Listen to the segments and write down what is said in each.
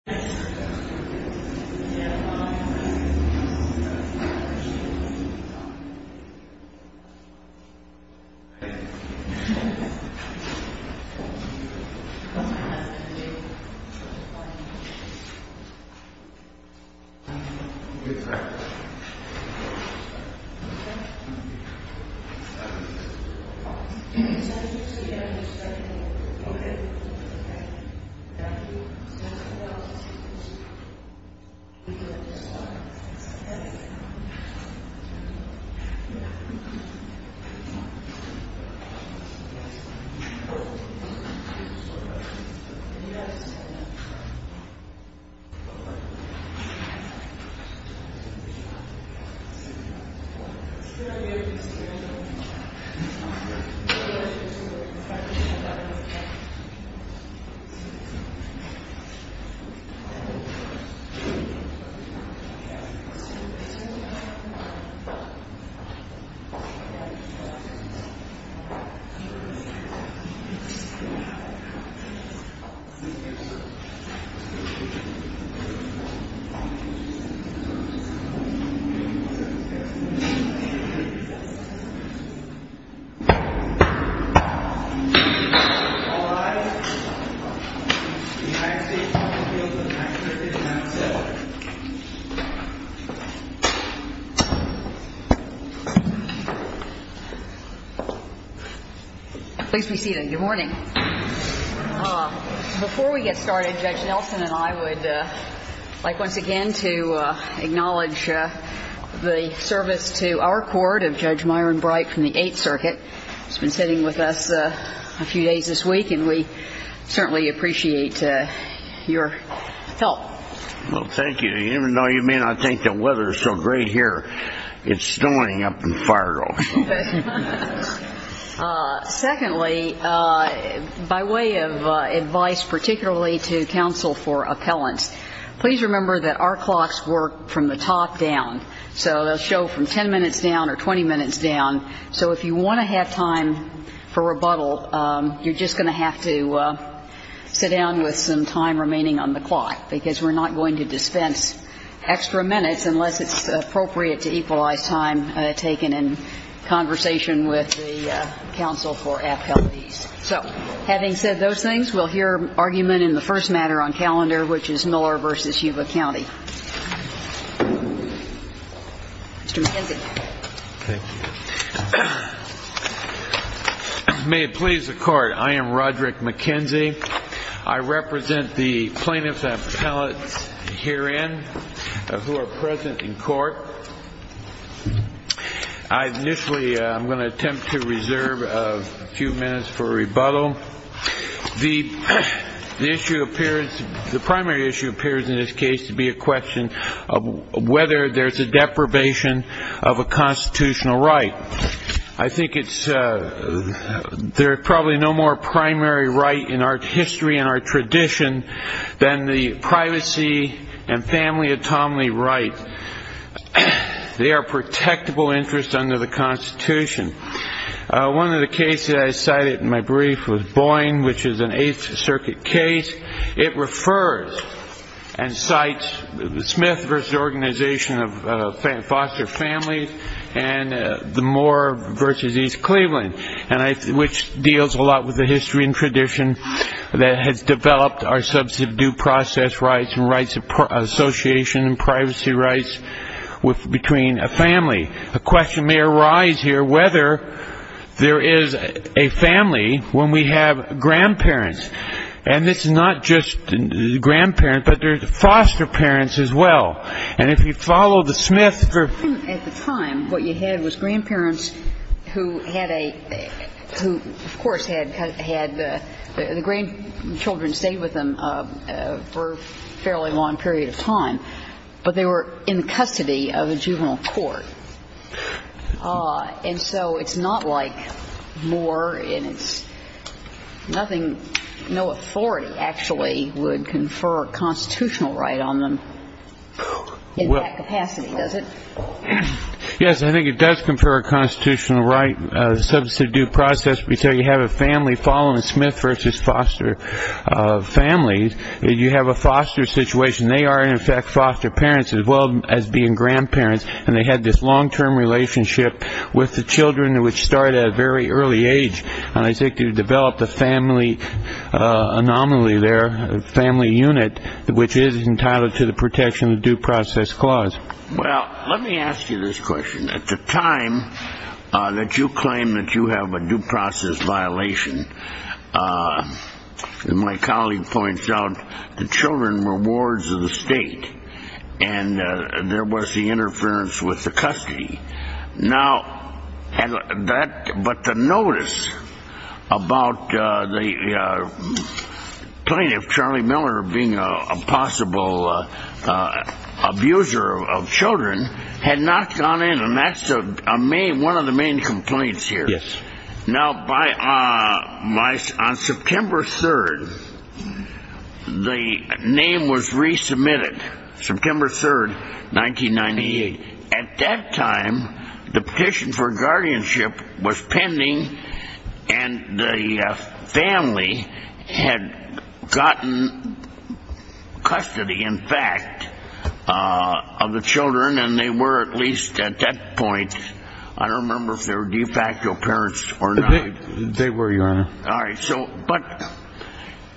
Welcome Board ballot 10 secs, 1 second 12 13 14 15 16 17 18 19 20 21 22 23 24 25 26 27 28 29 30 31 32 33 34 35 36 37 38 39 40 All rise United States Court of Appeals of the 9th Circuit and that's it Please be seated, good morning Before we get started Judge Nelson and I would like once again to acknowledge the service to our court of Judge Myron Bright from the 8th Circuit He's been sitting with us a few days this week and we certainly appreciate your help Well thank you, even though you may not think the weather is so great here It's snowing up in Fargo Secondly by way of advice particularly to counsel for appellants please remember that our clocks work from the top down so they'll show from 10 minutes down or 20 minutes down So if you want to have time for rebuttal you're just going to have to sit down with some time remaining on the clock because we're not going to dispense extra minutes unless it's appropriate to equalize time taken in conversation with the counsel for appellant So having said those things we'll hear argument in the first matter on calendar which is Miller v. Yuba County Mr. McKenzie Thank you May it please the court I am Roderick McKenzie I represent the plaintiffs and appellants herein who are present in court I initially am going to attempt to reserve a few minutes for rebuttal The issue appears, the primary issue appears in this case to be a question of whether there's a deprivation of a constitutional right I think it's there's probably no more primary right in our history and our tradition than the privacy and family autonomy right They are protectable interests under the constitution One of the cases I cited in my brief was Boyne which is an 8th Circuit case It refers and cites Smith v. Organization of Foster Families and the Moore v. East Cleveland which deals a lot with the history and tradition that has developed our substantive due process rights and rights of association and privacy rights between a family The question may arise here whether there is a family when we have grandparents and it's not just grandparents but there's foster parents as well and if you follow the Smith At the time, what you had was grandparents who had of course had the grandchildren stay with them for a fairly long period of time, but they were in custody of a juvenile court and so it's not like Moore and it's no authority actually would confer a constitutional right on them in that capacity, does it? Yes, I think it does confer a constitutional right substantive due process until you have a family following the Smith v. Foster Families You have a foster situation They are in effect foster parents as well as being grandparents and they had this long term relationship with the children which started at a very early age and I think you developed a family anomaly there a family unit which is entitled to the protection of the due process clause. Well, let me ask you this question. At the time that you claim that you have a due process violation my colleague points out the children were wards of the state and there was the interference with the custody now but the notice about the plaintiff Charlie Miller being a possible abuser of children had not gone in and that's one of the main complaints here now by on September 3rd the name was resubmitted September 3rd, 1998 at that time the petition for guardianship was pending and the family had gotten custody in fact of the children and they were at least at that point I don't remember if they were de facto parents or not They were, your honor Alright, so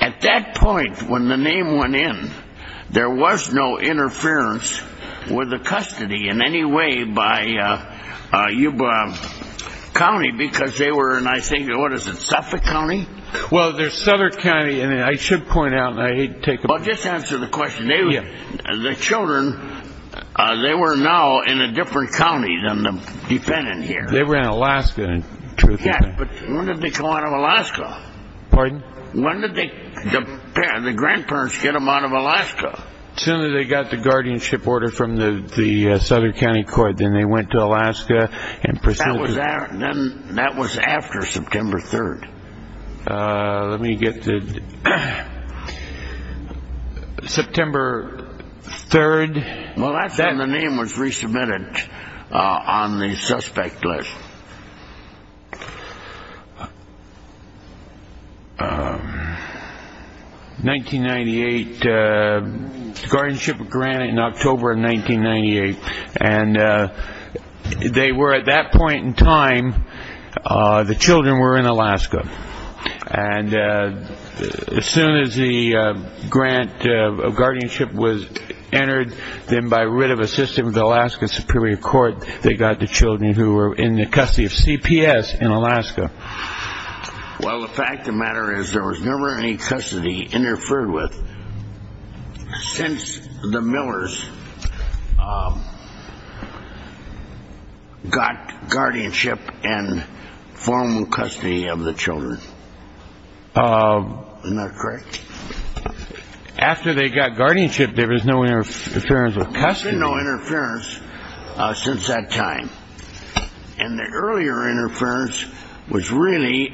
at that point when the name went in there was no interference with the custody in any way by county because they were in, I think, what is it, Suffolk County? Well, there's Southern County and I should point out Well, just answer the question the children they were now in a different county than the defendant here They were in Alaska Yeah, but when did they come out of Alaska? Pardon? When did the grandparents get them out of Alaska? As soon as they got the guardianship order from the Southern County Court then they went to Alaska That was after September 3rd Let me get the September 3rd Well, that's when the name was resubmitted on the suspect list 1998 guardianship grant in October of 1998 and they were at that point in time the children were in Alaska and as soon as the grant of guardianship was entered then by writ of assistance of the Alaska Superior Court they got the children who were in the custody of CPS in Alaska Well, the fact of the matter is there was never any custody interfered with since the Millers got guardianship and formal custody of the children Isn't that correct? After they got guardianship there was no interference with custody There has been no interference since that time and the earlier interference was really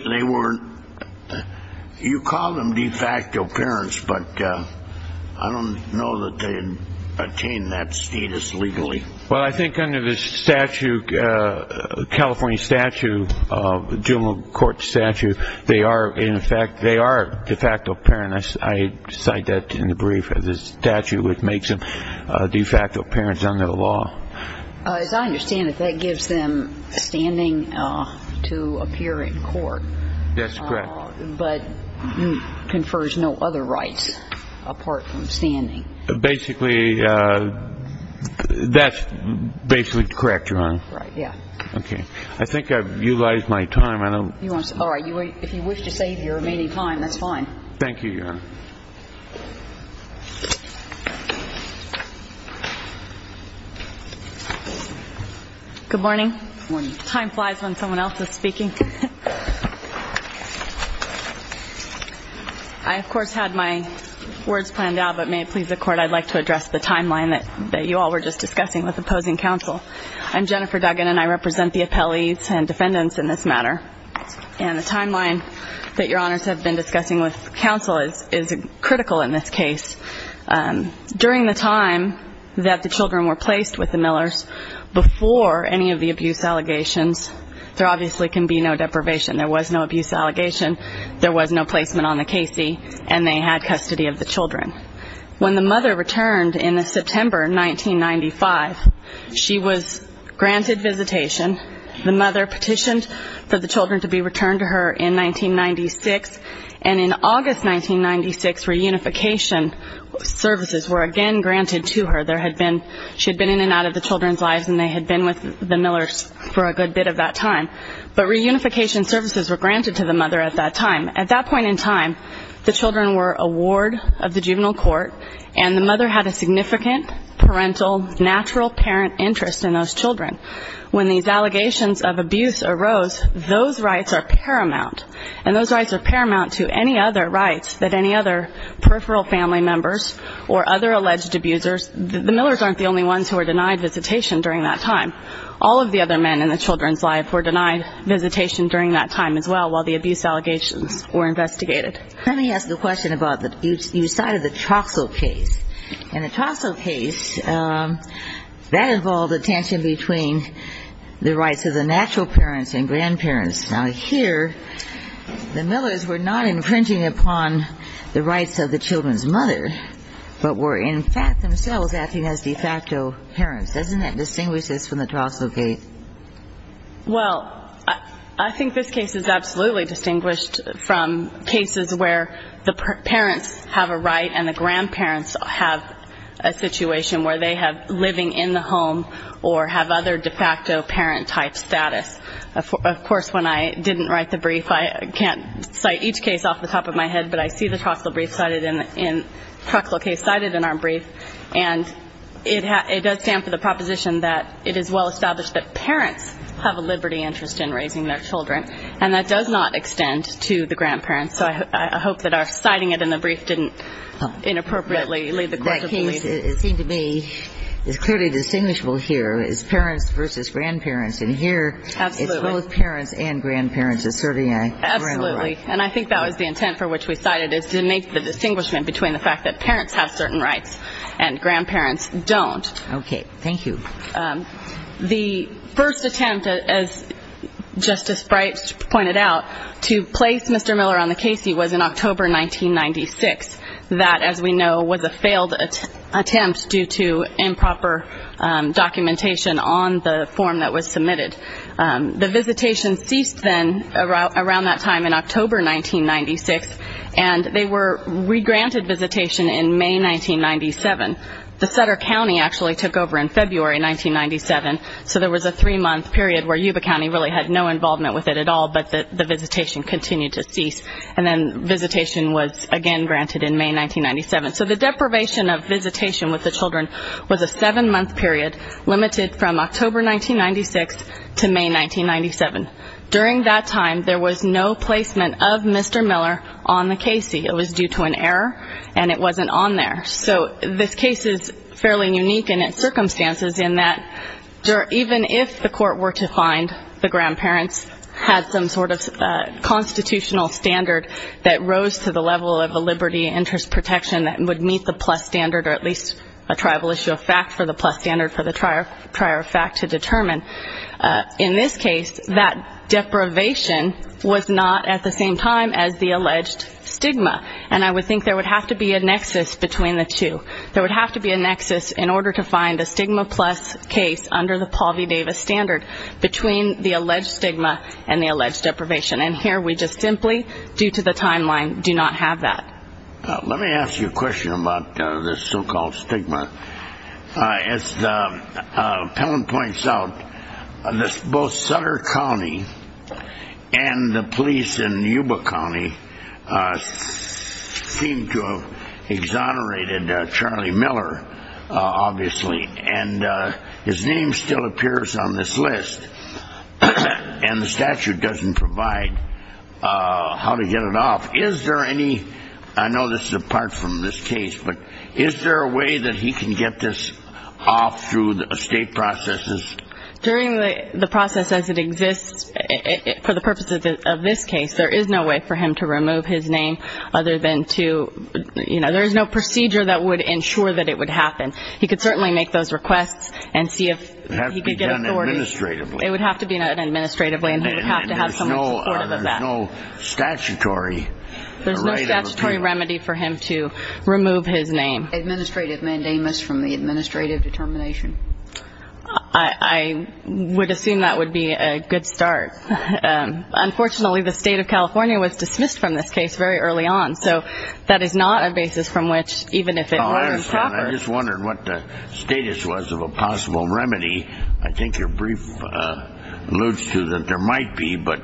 you call them de facto parents but I don't know that they attained that status legally Well, I think under the California statute of juvenile court statute they are in fact they are de facto parents I cite that in the brief the statute which makes them de facto parents under the law As I understand it, that gives them standing to appear in court That's correct but confers no other rights apart from standing Basically that's basically correct Your Honor I think I've utilized my time If you wish to save your remaining time that's fine Thank you, Your Honor Good morning Time flies when someone else is speaking I of course had my words planned out but may it please the court I'd like to address the timeline that you all were just discussing with opposing counsel I'm Jennifer Duggan and I represent the appellees and defendants in this matter The timeline that Your Honors have been discussing with counsel is critical in this case During the time that the children were placed with the Millers before any of the abuse allegations there obviously can be no deprivation There was no abuse allegation There was no placement on the Casey and they had custody of the children When the mother returned in September 1995 she was granted visitation The mother petitioned for the children to be returned to her in 1996 and in August 1996 reunification services were again granted to her She had been in and out of the children's lives and they had been with the Millers for a good bit of that time but reunification services were granted to the mother at that time At that point in time, the children were a ward of the juvenile court and the mother had a significant parental, natural parent interest in those children When these allegations of abuse arose those rights are paramount and those rights are paramount to any other rights that any other peripheral family members or other alleged abusers, the Millers aren't the only ones who were denied visitation during that time All of the other men in the children's lives were denied visitation during that time as well while the abuse allegations were investigated Let me ask a question about you cited the Troxell case In the Troxell case that involved a tension between the rights of the natural parents and grandparents Now here, the Millers were not infringing upon the rights of the children's mother but were in fact themselves acting as de facto parents Doesn't that distinguish this from the Troxell case? Well I think this case is absolutely distinguished from cases where the parents have a right and the grandparents have a situation where they have living in the home or have other de facto parent type status Of course when I didn't write the brief I can't cite each case off the top of my head but I see the Troxell brief cited in the Troxell case cited in our brief and it does stand for the proposition that it is well established that parents have a liberty interest in to the grandparents so I hope that our citing it in the brief didn't inappropriately lead the court to believe That case, it seemed to me is clearly distinguishable here is parents versus grandparents and here it's both parents and grandparents asserting a parental right And I think that was the intent for which we cited is to make the distinguishment between the fact that parents have certain rights and grandparents don't. Okay, thank you The first attempt as Justice Bright pointed out to place Mr. Miller on the case he was in October 1996 that as we know was a failed attempt due to improper documentation on the form that was submitted The visitation ceased then around that time in October 1996 and they were re-granted visitation in May 1997 The Sutter County actually took over in February 1997 so there was a three month period where Yuba County really had no involvement with it at all but the visitation continued to cease and then visitation was again granted in May 1997 so the deprivation of visitation with the children was a seven month period limited from October 1996 to May 1997 During that time there was no placement of Mr. Miller on the case he was due to an error and it wasn't on there so this case is fairly unique in its circumstances in that even if the court were to find the grandparents had some sort of constitutional standard that rose to the level of a liberty and interest protection that would meet the plus standard or at least a tribal issue of fact for the plus standard for the prior fact to determine in this case that deprivation was not at the same time as the alleged stigma and I would think there would have to be a nexus between the two. There would have to be a plus case under the Paul V. Davis standard between the alleged stigma and the alleged deprivation and here we just simply due to the timeline do not have that. Let me ask you a question about this so called stigma as the appellant points out both Sutter County and the police in Yuba County seem to have exonerated Charlie Miller obviously and his name still appears on this list and the statute doesn't provide how to get it off. Is there any, I know this is apart from this case, but is there a way that he can get this off through the estate processes? During the process as it exists for the purposes of this case there is no way for him to remove his name other than to, you know, there is no procedure that would ensure that it would happen. He could certainly make those requests and see if he could get authority. It would have to be done administratively and he would have to have someone supportive of that. There is no statutory remedy for him to remove his name. Administrative mandamus from the administrative determination. I would assume that would be a good start. Unfortunately the state of California was dismissed from this case very early on so that is not a basis from which even if it were to happen. I just wondered what the status was of a possible remedy. I think your brief alludes to that there might be but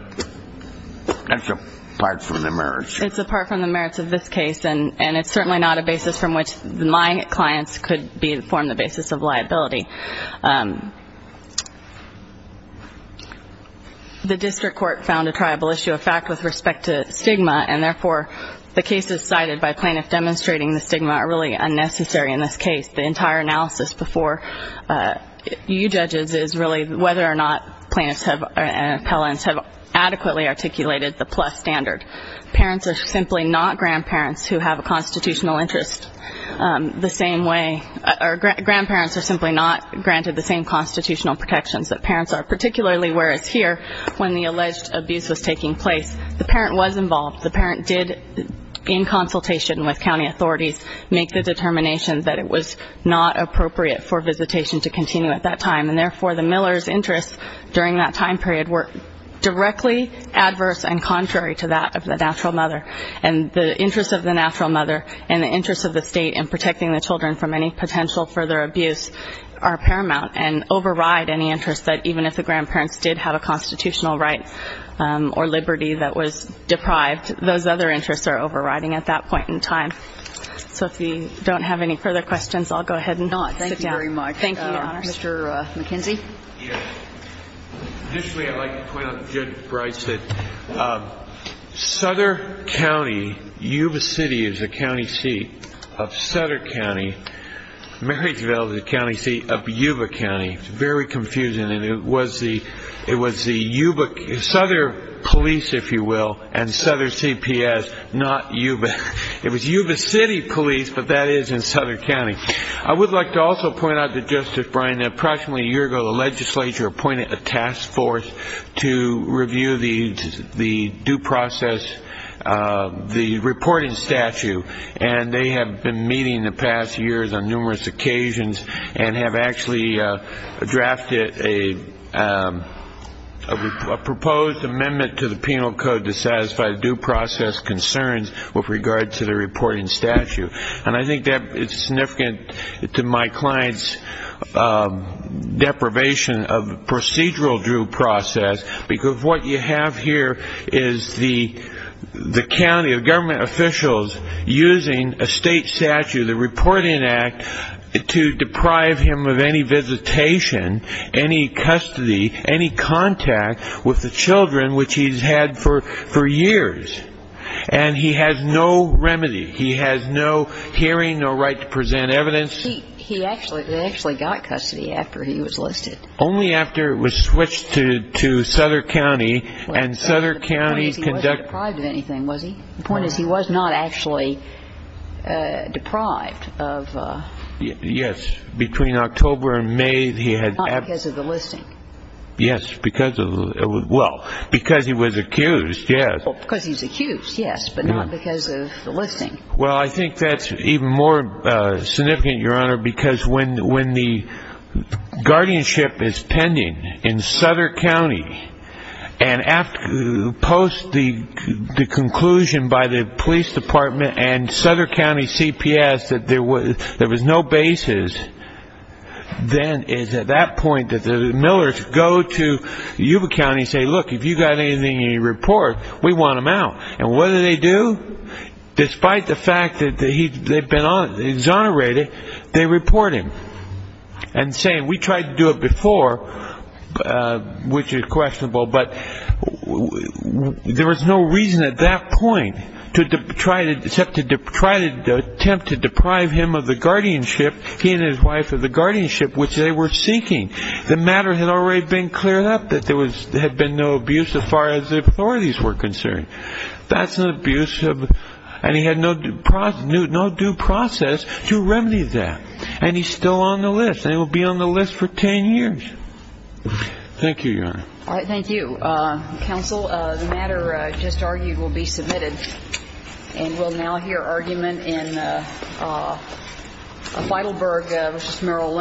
that's apart from the merits. It's apart from the merits of this case and it's certainly not a basis from which my clients could form the basis of liability. The district court found a tribal issue of fact with respect to the fact that the claims cited by plaintiff demonstrating the stigma are really unnecessary in this case. The entire analysis before you judges is really whether or not plaintiffs and appellants have adequately articulated the plus standard. Parents are simply not grandparents who have a constitutional interest the same way or grandparents are simply not granted the same constitutional protections that parents are. Particularly where it's here when the alleged abuse was taking place the parent was involved, the parent did in consultation with county authorities make the determination that it was not appropriate for visitation to continue at that time and therefore the miller's interest during that time period were directly adverse and contrary to that of the natural mother and the interest of the natural mother and the interest of the state in protecting the children from any potential further abuse are paramount and override any interest that even if the grandparents did have a constitutional right or liberty that was deprived, those other interests are overriding at that point in time. So if we don't have any further questions, I'll go ahead and not sit down. Thank you very much. Thank you. Mr. McKenzie? Initially I'd like to point out that Judge Bryce said Sutter County, Yuba City is the county seat of Sutter County. Marysville is the county seat of Sutter County. It was the Sutter Police, if you will, and Sutter CPS, not Yuba. It was Yuba City Police, but that is in Sutter County. I would like to also point out to Justice Bryan that approximately a year ago the legislature appointed a task force to review the due process, the reporting statute and they have been meeting the past years on numerous occasions and have actually drafted a proposed amendment to the penal code to satisfy due process concerns with regard to the reporting statute. And I think that is significant to my client's deprivation of procedural due process because what you have here is the county, the government officials using a state statute, the state statute to deprive him of any visitation, any custody, any contact with the children which he has had for years. And he has no remedy. He has no hearing, no right to present evidence. He actually got custody after he was listed. Only after it was switched to Sutter County and Sutter County conducted... Was he? The point is he was not actually deprived of... Yes. Between October and May he had... Not because of the listing. Yes, because of... Because he was accused, yes. Because he's accused, yes, but not because of the listing. Well, I think that's even more significant, Your Honor, because when the guardianship is pending in Sutter County and after post the conclusion by the police department and Sutter County CPS that there was no basis, then it's at that point that the millers go to Yuba County and say, look, if you've got anything in your report, we want him out. And what do they do? Despite the fact that they've been exonerated, they report him. And say, we tried to do it before, which is there was no reason at that point to try to attempt to deprive him of the guardianship, he and his wife of the guardianship, which they were seeking. The matter had already been cleared up that there had been no abuse as far as the authorities were concerned. That's an abuse and he had no due process to remedy that. And he's still on the list and he will be on the list for 10 years. Thank you, Your Honor. All right, thank you. Counsel, the matter just argued will be submitted and we'll now hear argument in Feidelberg v. Merrill Lynch.